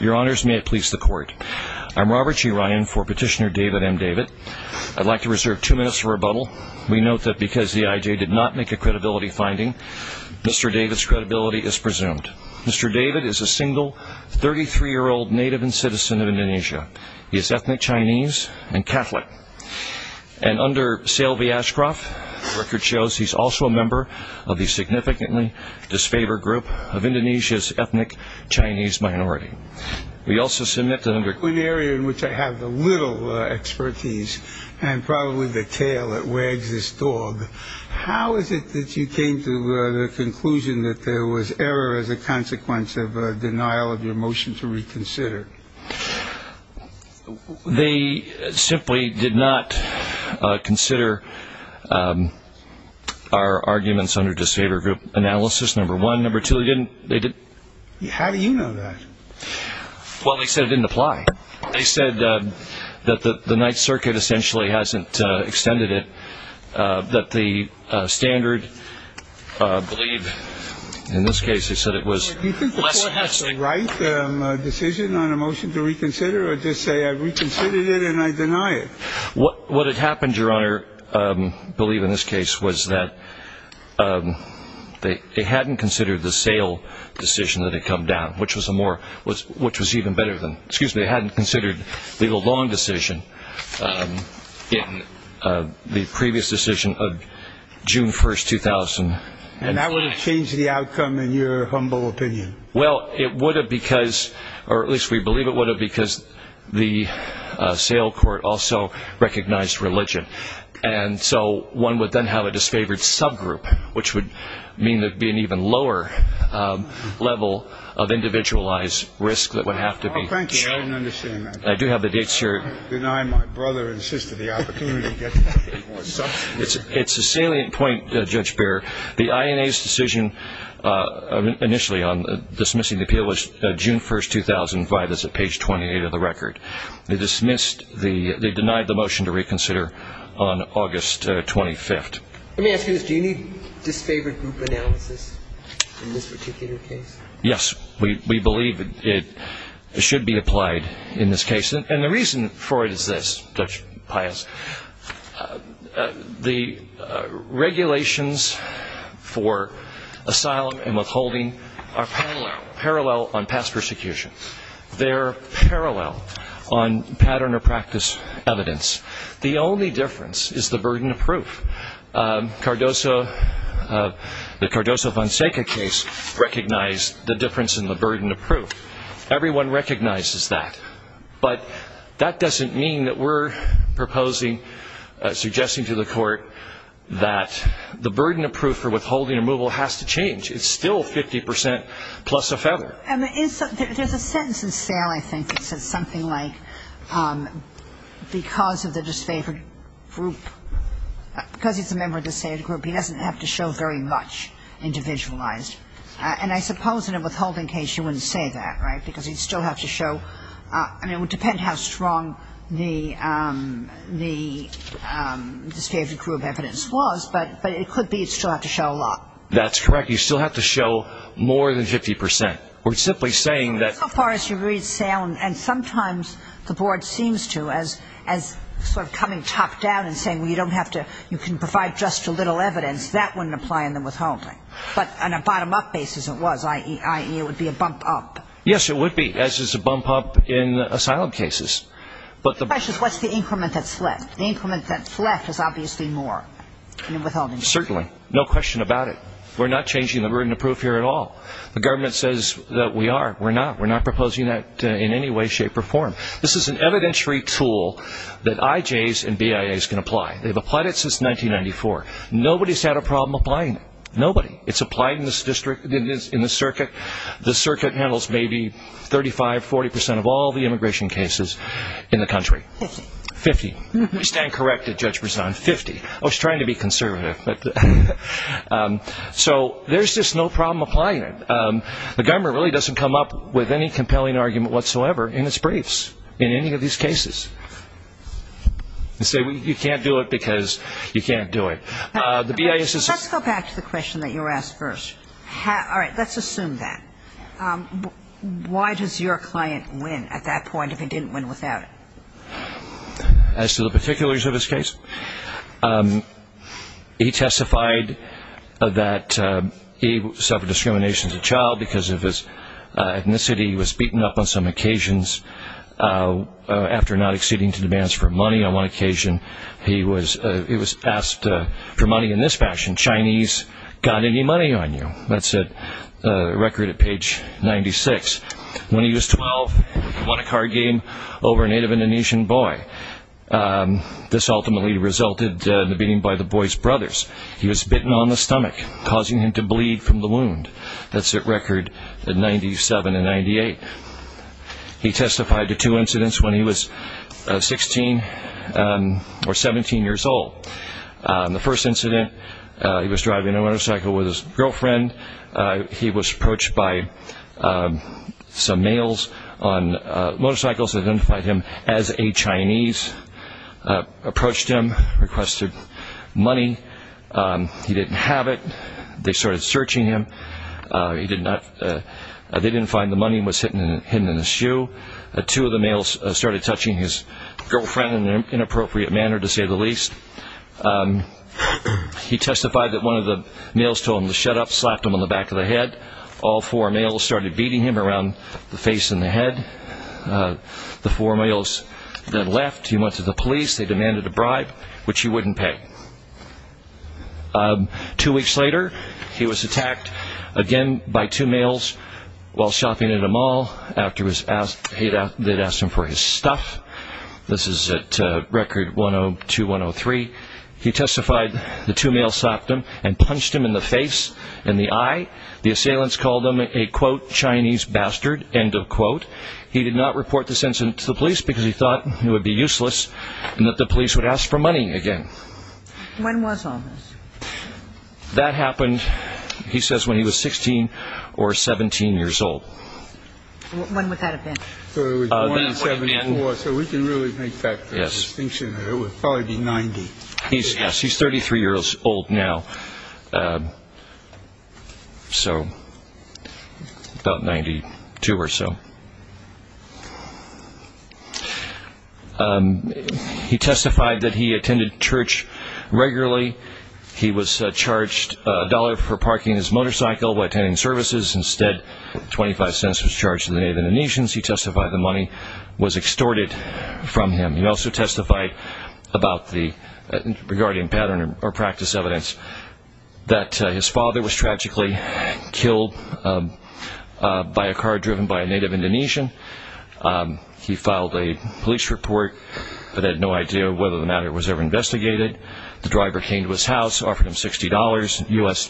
Your honors, may it please the court. I'm Robert G. Ryan for petitioner David M. David. I'd like to reserve two minutes for rebuttal. We note that because the IJ did not make a credibility finding, Mr. David's credibility is presumed. Mr. David is a single 33-year-old native and citizen of Indonesia. He is ethnic Chinese and Catholic. And under Sale V. Ashcroft, the record shows he's also a member of the significantly disfavored group of Indonesia's Chinese minority. We also submit that under One area in which I have little expertise, and probably the tail that wags this dog, how is it that you came to the conclusion that there was error as a consequence of denial of your motion to reconsider? They simply did not consider our arguments under disfavored group analysis, number one. Number two, they didn't. How do you know that? Well, they said it didn't apply. They said that the Ninth Circuit essentially hasn't extended it, that the standard, I believe, in this case, they said it was. Do you think the court has the right decision on a motion to reconsider or just say I've reconsidered it and I deny it? What what had happened, Your Honor, I believe in this case was that they hadn't considered the sale decision that had come down, which was a more, which was even better than, excuse me, they hadn't considered legal long decision in the previous decision of June 1st, 2000. And that would have changed the outcome in your humble opinion? Well, it would have because, or at least we believe it would because the sale court also recognized religion. And so one would then have a disfavored subgroup, which would mean there'd be an even lower level of individualized risk that would have to be. Oh, thank you. I didn't understand that. I do have the dates here. Deny my brother and sister the opportunity. It's a salient point, Judge Behr. The INA's decision initially on dismissing the appeal June 1st, 2005 is at page 28 of the record. They dismissed the, they denied the motion to reconsider on August 25th. Let me ask you this, do you need disfavored group analysis in this particular case? Yes, we believe it should be applied in this case. And the reason for it is this, Judge Pius, the regulations for asylum and withholding are parallel, parallel on past persecution. They're parallel on pattern or practice evidence. The only difference is the burden of proof. Cardoso, the Cardoso-Fonseca case recognized the difference in the burden of proof. Everyone recognizes that. But that doesn't mean that we're proposing, suggesting to the court, that the burden of proof for withholding removal has to change. It's still 50% plus a feather. And there's a sentence in SAIL, I think, that says something like, because of the disfavored group, because he's a member of the disfavored group, he doesn't have to show very much individualized. And I suppose in a withholding case, you wouldn't say that, right? Because he'd still have to show, I mean, it would depend how strong the disfavored group evidence was, but it could be he'd still have to show a lot. That's correct. You still have to show more than 50%. We're simply saying that So far as you read SAIL, and sometimes the board seems to, as sort of coming top down and saying, well, you don't have to, you can provide just a little evidence, that wouldn't apply in the Yes, it would be, as is a bump up in asylum cases. The question is, what's the increment that's left? The increment that's left is obviously more. Certainly. No question about it. We're not changing the burden of proof here at all. The government says that we are. We're not. We're not proposing that in any way, shape or form. This is an evidentiary tool that IJs and BIAs can apply. They've applied it since 1994. Nobody's had a problem applying it. Nobody. It's applied in this district, in this circuit. The circuit handles maybe 35, 40% of all the immigration cases in the country. 50. 50. We stand corrected, Judge Brisson. 50. I was trying to be conservative. So there's just no problem applying it. The government really doesn't come up with any compelling argument whatsoever in its briefs in any of these cases. They say you can't do it because you can't do it. Let's go back to the question that you were asked first. All right. Let's assume that. Why does your client win at that point if he didn't win without it? As to the particulars of his case, he testified that he suffered discrimination as a child because of his ethnicity. He was beaten up on some occasions after not acceding to demands for money on one occasion. He was asked for money in this fashion, Chinese, got any money on you? That's a record at page 96. When he was 12, he won a card game over a Native Indonesian boy. This ultimately resulted in the beating by the boy's brothers. He was bitten on the stomach, causing him to bleed from the wound. That's a record at 97 and 98. He testified to two incidents when he was 16 or 17 years old. The first incident, he was driving a motorcycle with his girlfriend. He was approached by some males on motorcycles that identified him as a Chinese. Approached him, requested money. He didn't have it. They started searching him. They didn't find the money. It was hidden in his shoe. Two of the males started touching his girlfriend in an inappropriate manner, to say the least. He testified that one of the males told him to shut up, slapped him on the back of the head. All four males started beating him around the face and the head. The four males then left. He went to the police. They demanded a bribe, which he wouldn't pay. Two weeks later, he was attacked again by two males while shopping at a mall. After they'd asked him for his stuff, this is at record 102-103, he testified the two males slapped him and punched him in the face and the eye. The assailants called him a quote Chinese bastard, end of quote. He did not report this incident to the police because he thought it would be useless and that the police would ask for money again. When was all this? That happened, he says, when he was 16 or 17 years old. When would that have been? So we can really make that distinction. It would probably be 90. Yes, he's 33 years old now. So about 92 or so. He testified that he attended church regularly. He was charged a dollar for parking his motorcycle while attending services. Instead, 25 cents was charged to the Native Indonesians. He testified the money was extorted from him. He also testified regarding pattern or practice evidence that his father was tragically killed by a car driven by a Native Indonesian. He filed a police report but had no idea whether the matter was ever investigated. The driver came to his house, offered him 60 dollars in U.S.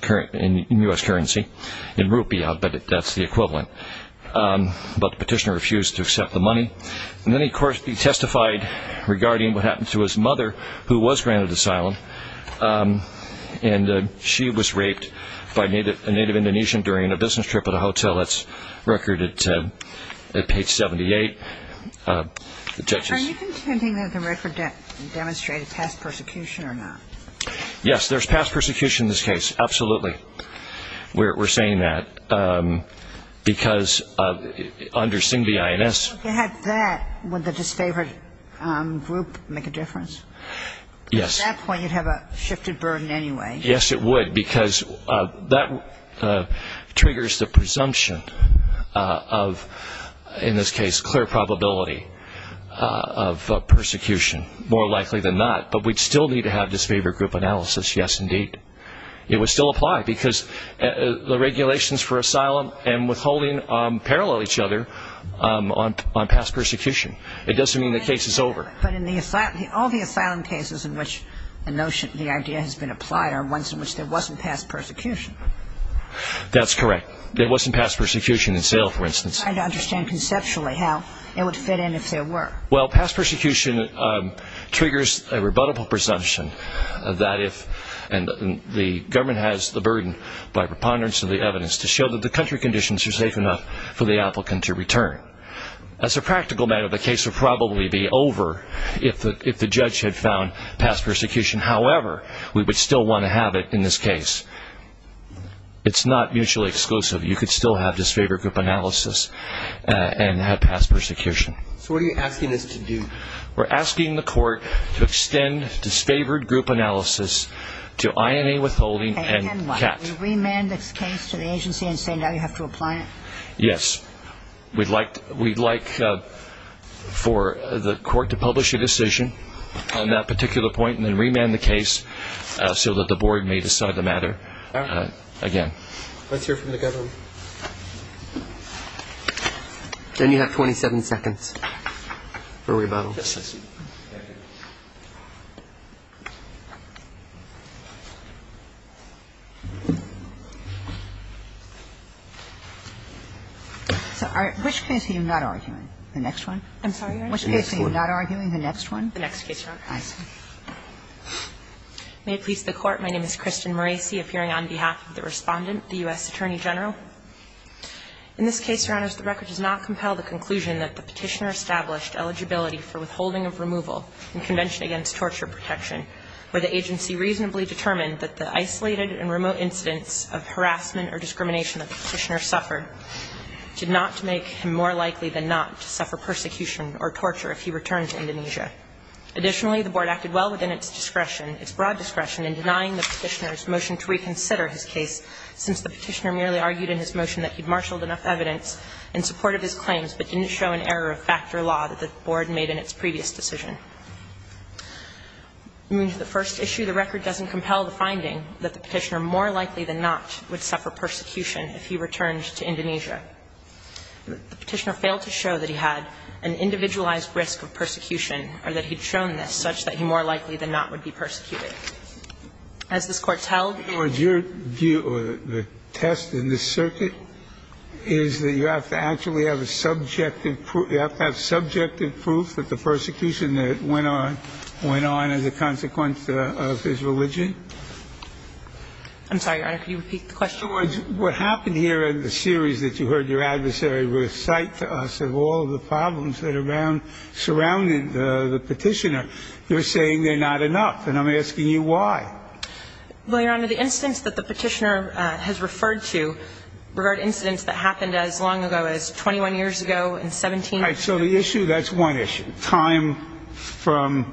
currency, in rupiah, but that's the equivalent. But the petitioner refused to accept the money. And then, of course, he testified regarding what happened to his mother, who was granted asylum. And she was raped by a Native Indonesian during a business trip at a hotel. That's recorded at page 78. Are you contending that the record demonstrated past persecution or not? Yes, there's past persecution in this case, absolutely. We're saying that because under Singh v. INS... If you had that, would the disfavored group make a difference? Yes. At that point, you'd have a shifted burden anyway. Yes, it would because that triggers the presumption of, in this case, clear probability of persecution. More likely than not. But we'd still need to have disfavored group analysis. Yes, indeed. It would still apply because the regulations for asylum and withholding parallel each other on past persecution. It doesn't mean the case is over. But all the asylum cases in which the idea has been applied are ones in which there wasn't past persecution. That's correct. There wasn't past persecution in Seville, for instance. I don't understand conceptually how it would fit in if there were. Well, past persecution. So what are you asking us to do? We're asking the court to extend disfavored group analysis to INA withholding and CAT. We remand this case to the agency and say now you have to apply it? Yes. We'd like for the court to publish a decision on that particular point and then remand the case so that the board may decide the matter again. Let's hear from the plaintiff. Which case are you not arguing? The next one? I'm sorry, Your Honor. Which case are you not arguing? The next one? The next case, Your Honor. I see. May it please the Court. My name is Kristen Maraci, appearing on behalf of the Respondent, the U.S. Attorney General. In this case, Your Honors, the record does not compel the conclusion that the Petitioner established eligibility for withholding of removal in Convention Against Torture Protection, where the agency reasonably determined that the isolated and remote incidents of harassment or discrimination that the Petitioner suffered did not make him more likely than not to suffer persecution or torture if he returned to Indonesia. Additionally, the board acted well within its discretion, its broad discretion, in denying the Petitioner's motion to reconsider his case, since the Petitioner merely argued in his motion that he'd marshalled enough evidence in support of his claims but didn't show an error of factor law that the board made in its previous decision. The first issue, the record doesn't compel the finding that the Petitioner more likely than not would suffer persecution if he returned to Indonesia. The Petitioner failed to show that he had an individualized risk of persecution or that he'd shown this, such that he more likely than not would be persecuted. As this Court tells you the test in this circuit is that you have to actually have a subjective proof that the persecution that went on, went on as a consequence of his religion. I'm sorry, Your Honor, could you repeat the question? In other words, what happened here in the series that you heard your adversary recite to us of all of the problems that are around, surrounding the Petitioner, you're saying they're not enough. And I'm asking you why. Well, Your Honor, the incidents that the Petitioner has referred to regard incidents that happened as long ago as 21 years ago and 17 years ago. All right, so the issue, that's one issue, time from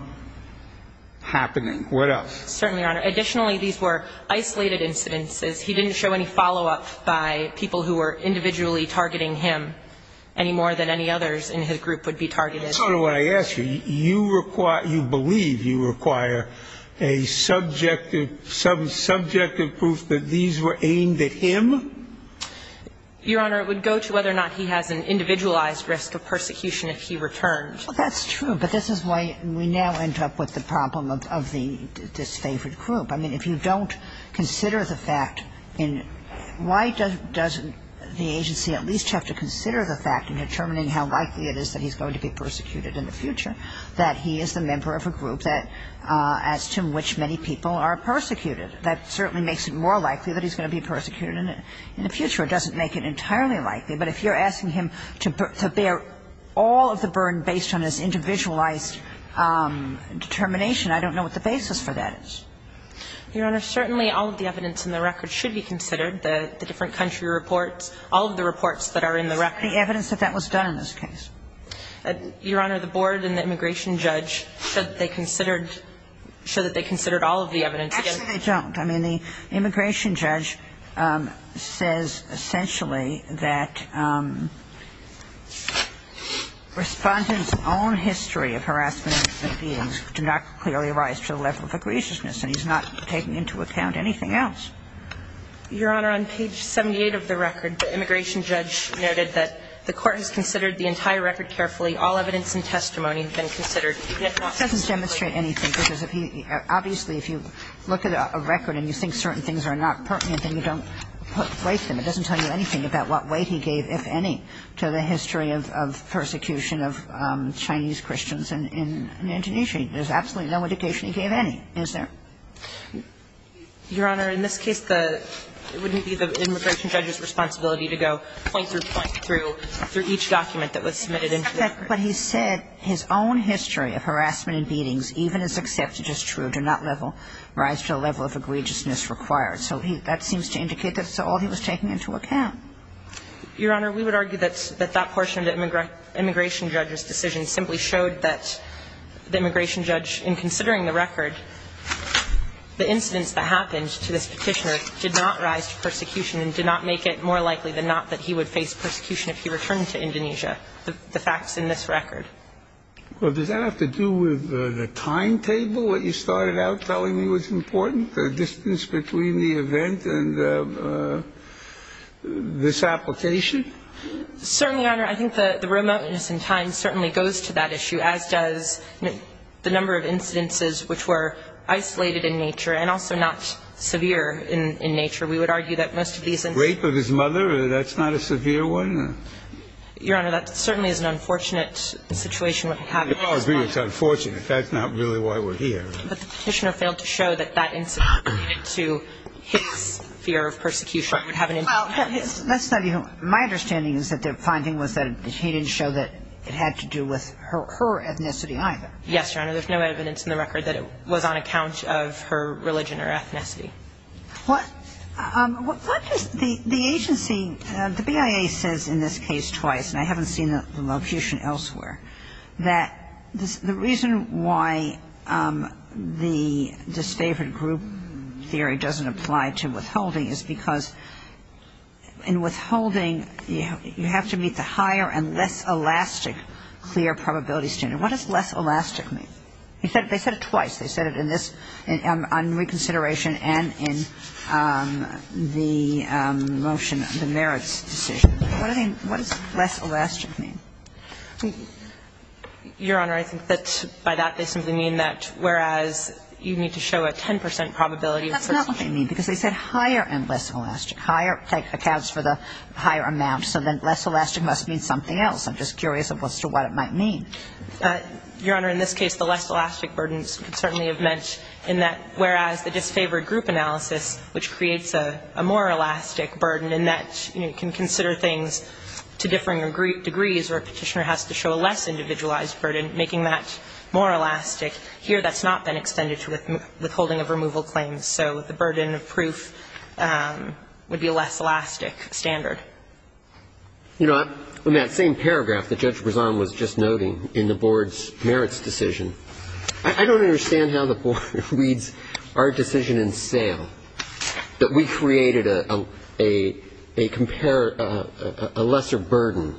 happening. What else? Certainly, Your Honor. Additionally, these were isolated incidences. He didn't show any follow-up by people who were individually targeting him any more than any others in his group would be targeted. That's not what I asked you. You require, you believe you require a subjective, some subjective proof that these were aimed at him? Your Honor, it would go to whether or not he has an individualized risk of persecution if he returned. Well, that's true, but this is why we now end up with the problem of the disfavored group. I mean, if you don't consider the fact in why does the agency at least have to consider the fact in determining how likely it is that he's going to be persecuted in the future that he is the member of a group that as to which many people are persecuted. That certainly makes it more likely that he's going to be persecuted in the future. It doesn't make it entirely likely, but if you're asking him to bear all of the burden based on his individualized determination, I don't know what the basis for that is. Your Honor, certainly all of the evidence in the record should be considered. The different country reports, all of the reports that are in the record. The evidence that that was done in this case. Your Honor, the board and the immigration judge said they considered, said that they considered all of the evidence. Actually, they don't. I mean, the immigration judge says essentially that Respondent's own history of harassment of human beings do not clearly rise to the level of egregiousness, and he's not taking into account anything else. Your Honor, on page 78 of the record, the immigration judge noted that the court has considered the entire record carefully. All evidence and testimony have been considered. It doesn't demonstrate anything, because if he – obviously, if you look at a record and you think certain things are not pertinent, then you don't place them. It doesn't tell you anything about what weight he gave, if any, to the history of persecution of Chinese Christians in Indonesia. There's absolutely no indication he gave any, is there? Your Honor, in this case, the – it wouldn't be the immigration judge's responsibility to go point through point through each document that was submitted into the record. But he said his own history of harassment and beatings, even as accepted as true, do not level – rise to the level of egregiousness required. So he – that seems to indicate that's all he was taking into account. Your Honor, we would argue that that portion of the immigration judge's decision simply showed that the immigration judge, in considering the record, the incidents that happened to this Petitioner did not rise to persecution and did not make it more likely than not that he would face persecution if he returned to Indonesia. The fact's in this record. Well, does that have to do with the timetable, what you started out telling me was important? The distance between the event and this application? Certainly, Your Honor. I think the remoteness in time certainly goes to that issue, as does the number of incidences which were isolated in nature and also not severe in nature. We would argue that most of these incidents – Rape of his mother, that's not a severe one? Your Honor, that certainly is an unfortunate situation we're having. I agree it's unfortunate. That's not really why we're here. But the Petitioner failed to show that that incident related to his fear of persecution would have an impact. That's not even – my understanding is that the finding was that he didn't show that it had to do with her ethnicity either. Yes, Your Honor. There's no evidence in the record that it was on account of her religion or ethnicity. What does the agency – the BIA says in this case twice, and I haven't seen the locution elsewhere, that the reason why the disfavored group theory doesn't apply to withholding is because in withholding you have to meet the higher and less elastic clear probability standard. What does less elastic mean? They said it twice. They said it in this – on reconsideration and in the motion, the merits decision. What do they – what does less elastic mean? Your Honor, I think that by that they simply mean that whereas you need to show a 10 percent probability of persecution. That's not what they mean, because they said higher and less elastic. Higher accounts for the higher amount, so then less elastic must mean something else. I'm just curious as to what it might mean. Your Honor, in this case the less elastic burdens certainly have meant in that whereas the disfavored group analysis, which creates a more elastic burden in that you can consider things to differing degrees where a petitioner has to show a less individualized burden, making that more elastic. Here that's not been extended to withholding of removal claims. So the burden of proof would be a less elastic standard. In that same paragraph that Judge Brezan was just noting in the board's merits decision, I don't understand how the board reads our decision in sale, that we created a lesser burden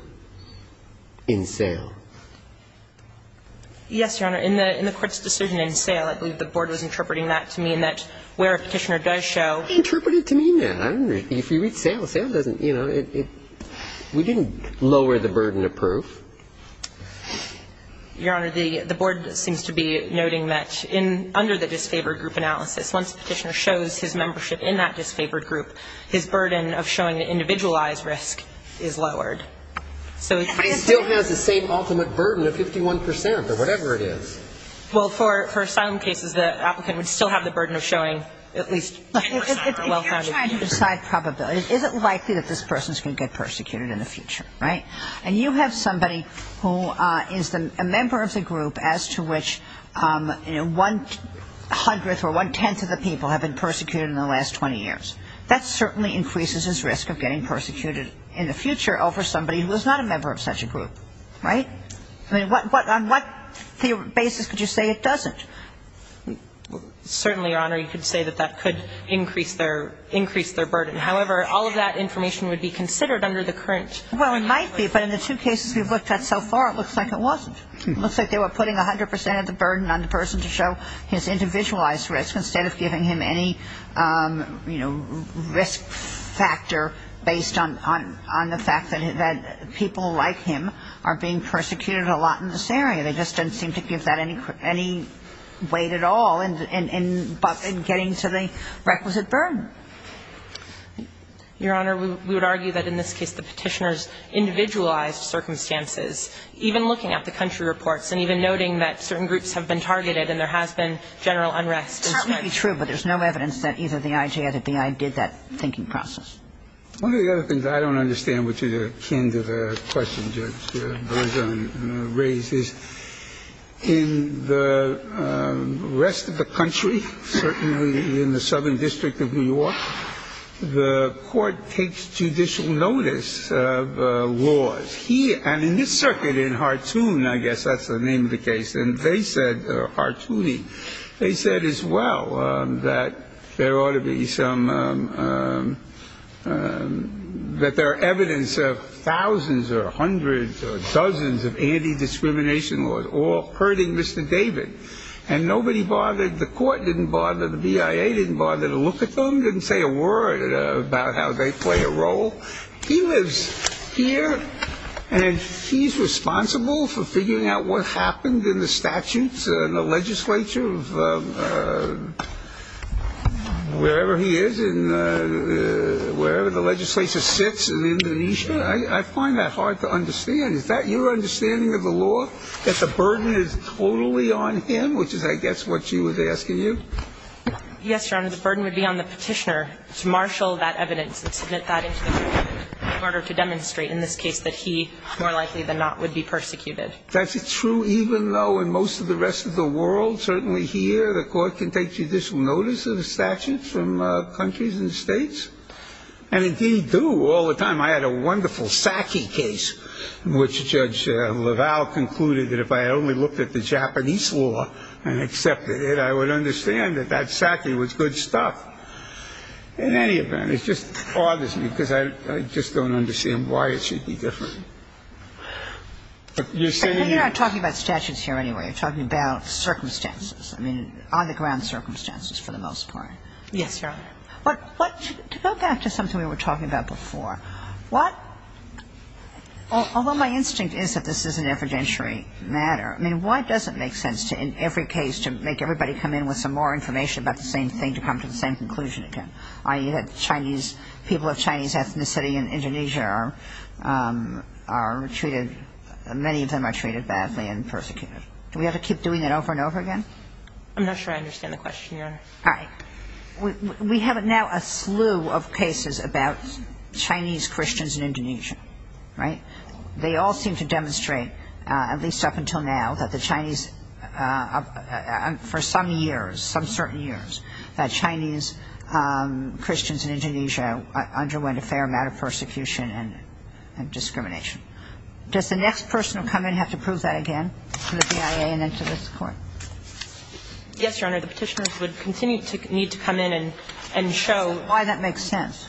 in sale. Yes, Your Honor, in the court's decision in sale, I believe the board was interpreting that to mean that where a petitioner does show – Interpreted to mean that. If you read sale, sale doesn't – you know, it's not – it doesn't mean that it's – we didn't lower the burden of proof. Your Honor, the board seems to be noting that in – under the disfavored group analysis, once a petitioner shows his membership in that disfavored group, his burden of showing an individualized risk is lowered. So it's – He still has the same ultimate burden of 51 percent or whatever it is. Well for asylum cases, the applicant would still have the burden of showing at least – That he or she is going to get persecuted in the future, right? And you have somebody who is a member of the group as to which, you know, one hundredth or one-tenth of the people have been persecuted in the last 20 years. That certainly increases his risk of getting persecuted in the future over somebody who is not a member of such a group, right? I mean, what – on what basis could you say it doesn't? Certainly, Your Honor, you could say that that could increase their – increase their burden. However, all of that information would be considered under the current – Well, it might be. But in the two cases we've looked at so far, it looks like it wasn't. It looks like they were putting a hundred percent of the burden on the person to show his individualized risk instead of giving him any, you know, risk factor based on – on the fact that people like him are being persecuted a lot in this area. They just didn't seem to give that any weight at all in getting to the requisite burden. Your Honor, we would argue that in this case the Petitioner's individualized circumstances, even looking at the country reports and even noting that certain groups have been targeted and there has been general unrest. It's certainly true, but there's no evidence that either the IJ or the BI did that thinking process. One of the other things I don't understand, which is akin to the question Judge Bergeron raised, is in the rest of the country, certainly in the Southern District of New York, the court takes judicial notice of laws. Here – and in this circuit in Hartoon, I guess that's the name of the case, and they said – Hartooning – they said as well that there ought to be some – that there are evidence of thousands or hundreds or dozens of anti-discrimination laws all hurting Mr. David. And nobody bothered – the court didn't bother, the BIA didn't bother to look at them, didn't say a word about how they play a role. He lives here, and he's responsible for figuring out what happened in the statutes and the legislature of wherever he is in – wherever the legislature sits in Indonesia. I find that hard to understand. Is that your understanding of the law, that the burden is totally on him, which is, I guess, what she was asking you? Yes, Your Honor. The burden would be on the petitioner to marshal that evidence and submit that into the court in order to demonstrate in this case that he, more likely than not, would be persecuted. That's true even though in most of the rest of the world, certainly here, the court can take judicial notice of a statute from countries and states, and indeed do all the time. I had a wonderful Sackey case in which Judge LaValle concluded that if I only looked at the Japanese law and accepted it, I would understand that that Sackey was good stuff. In any event, it just bothers me because I just don't understand why it should be different. But you're saying – But you're not talking about statutes here anyway. You're talking about circumstances, I mean, on-the-ground circumstances for the most part. Yes, Your Honor. But to go back to something we were talking about before, what – although my instinct is that this is an evidentiary matter, I mean, why does it make sense to, in every case, to make everybody come in with some more information about the same thing to come to the same conclusion again, i.e., that the Chinese – people of Chinese ethnicity in Indonesia are treated – many of them are treated badly and persecuted? Do we have to keep doing that over and over again? I'm not sure I understand the question, Your Honor. All right. We have now a slew of cases about Chinese Christians in Indonesia, right? They all seem to demonstrate, at least up until now, that the Chinese – for some years, some certain years, that Chinese Christians in Indonesia underwent a fair amount of persecution and discrimination. Does the next person who will come in have to prove that again to the BIA and then to this Court? Yes, Your Honor. The Petitioners would continue to need to come in and show – Why that makes sense.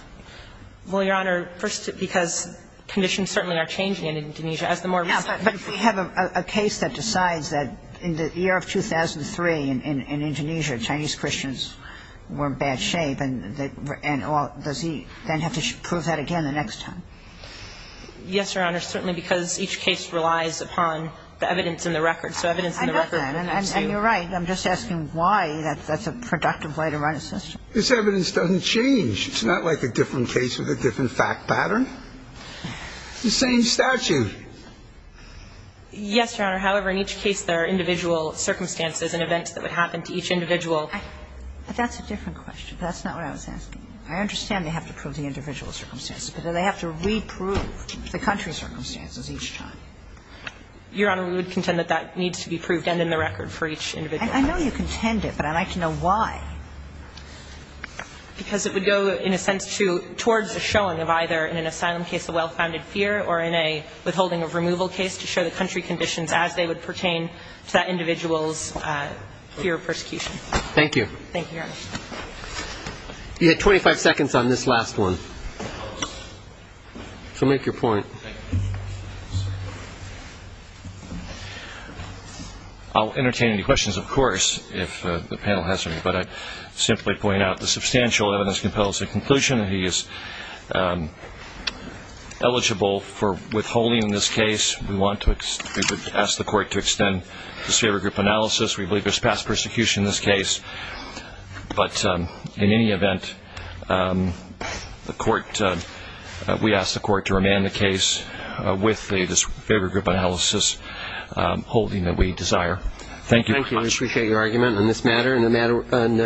Well, Your Honor, first because conditions certainly are changing in Indonesia as the more recent – But if we have a case that decides that in the year of 2003 in Indonesia, Chinese Christians were in bad shape, and all – does he then have to prove that again the next time? Yes, Your Honor, certainly because each case relies upon the evidence and the record. So evidence and the record – I know that, and you're right. I'm just asking why that's a productive way to run a system. This evidence doesn't change. It's not like a different case with a different fact pattern. It's the same statute. Yes, Your Honor. However, in each case, there are individual circumstances and events that would happen to each individual. But that's a different question. That's not what I was asking. I understand they have to prove the individual circumstances, but do they have to reprove the country circumstances each time? Your Honor, we would contend that that needs to be proved and in the record for each individual case. I know you contend it, but I'd like to know why. Because it would go, in a sense, towards a showing of either in an asylum case a well-founded fear or in a withholding of removal case to show the country conditions as they would pertain to that individual's fear of persecution. Thank you. Thank you, Your Honor. You had 25 seconds on this last one, so make your point. Thank you. I'll entertain any questions, of course, if the panel has any. But I'd simply point out the substantial evidence compels the conclusion that he is eligible for withholding this case. We want to ask the court to extend the disfavor group analysis. We believe there's past persecution in this case. But in any event, we ask the court to remand the case with the disfavor group analysis holding that we desire. Thank you very much. We appreciate your argument on this matter. And the matter on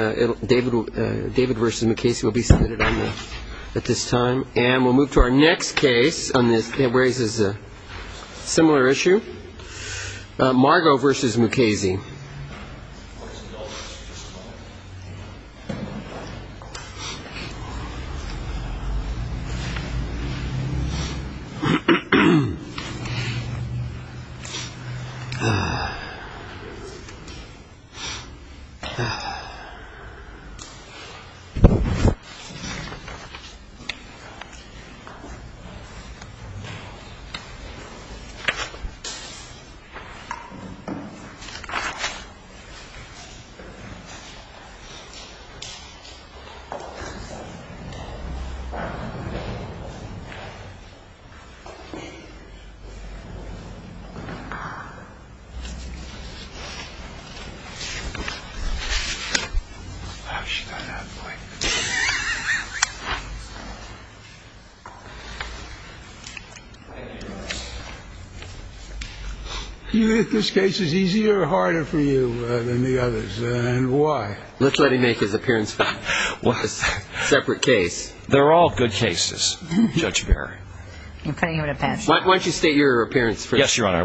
David versus Mukasey will be submitted at this time. And we'll move to our next case on this that raises a similar issue. Margo versus Mukasey. You think this case is easier or harder for you than the others, and why? Let's let him make his appearance on this separate case. They're all good cases, Judge Barry. You're putting him in a bad spot. Why don't you state your appearance first? Yes, Your Honor.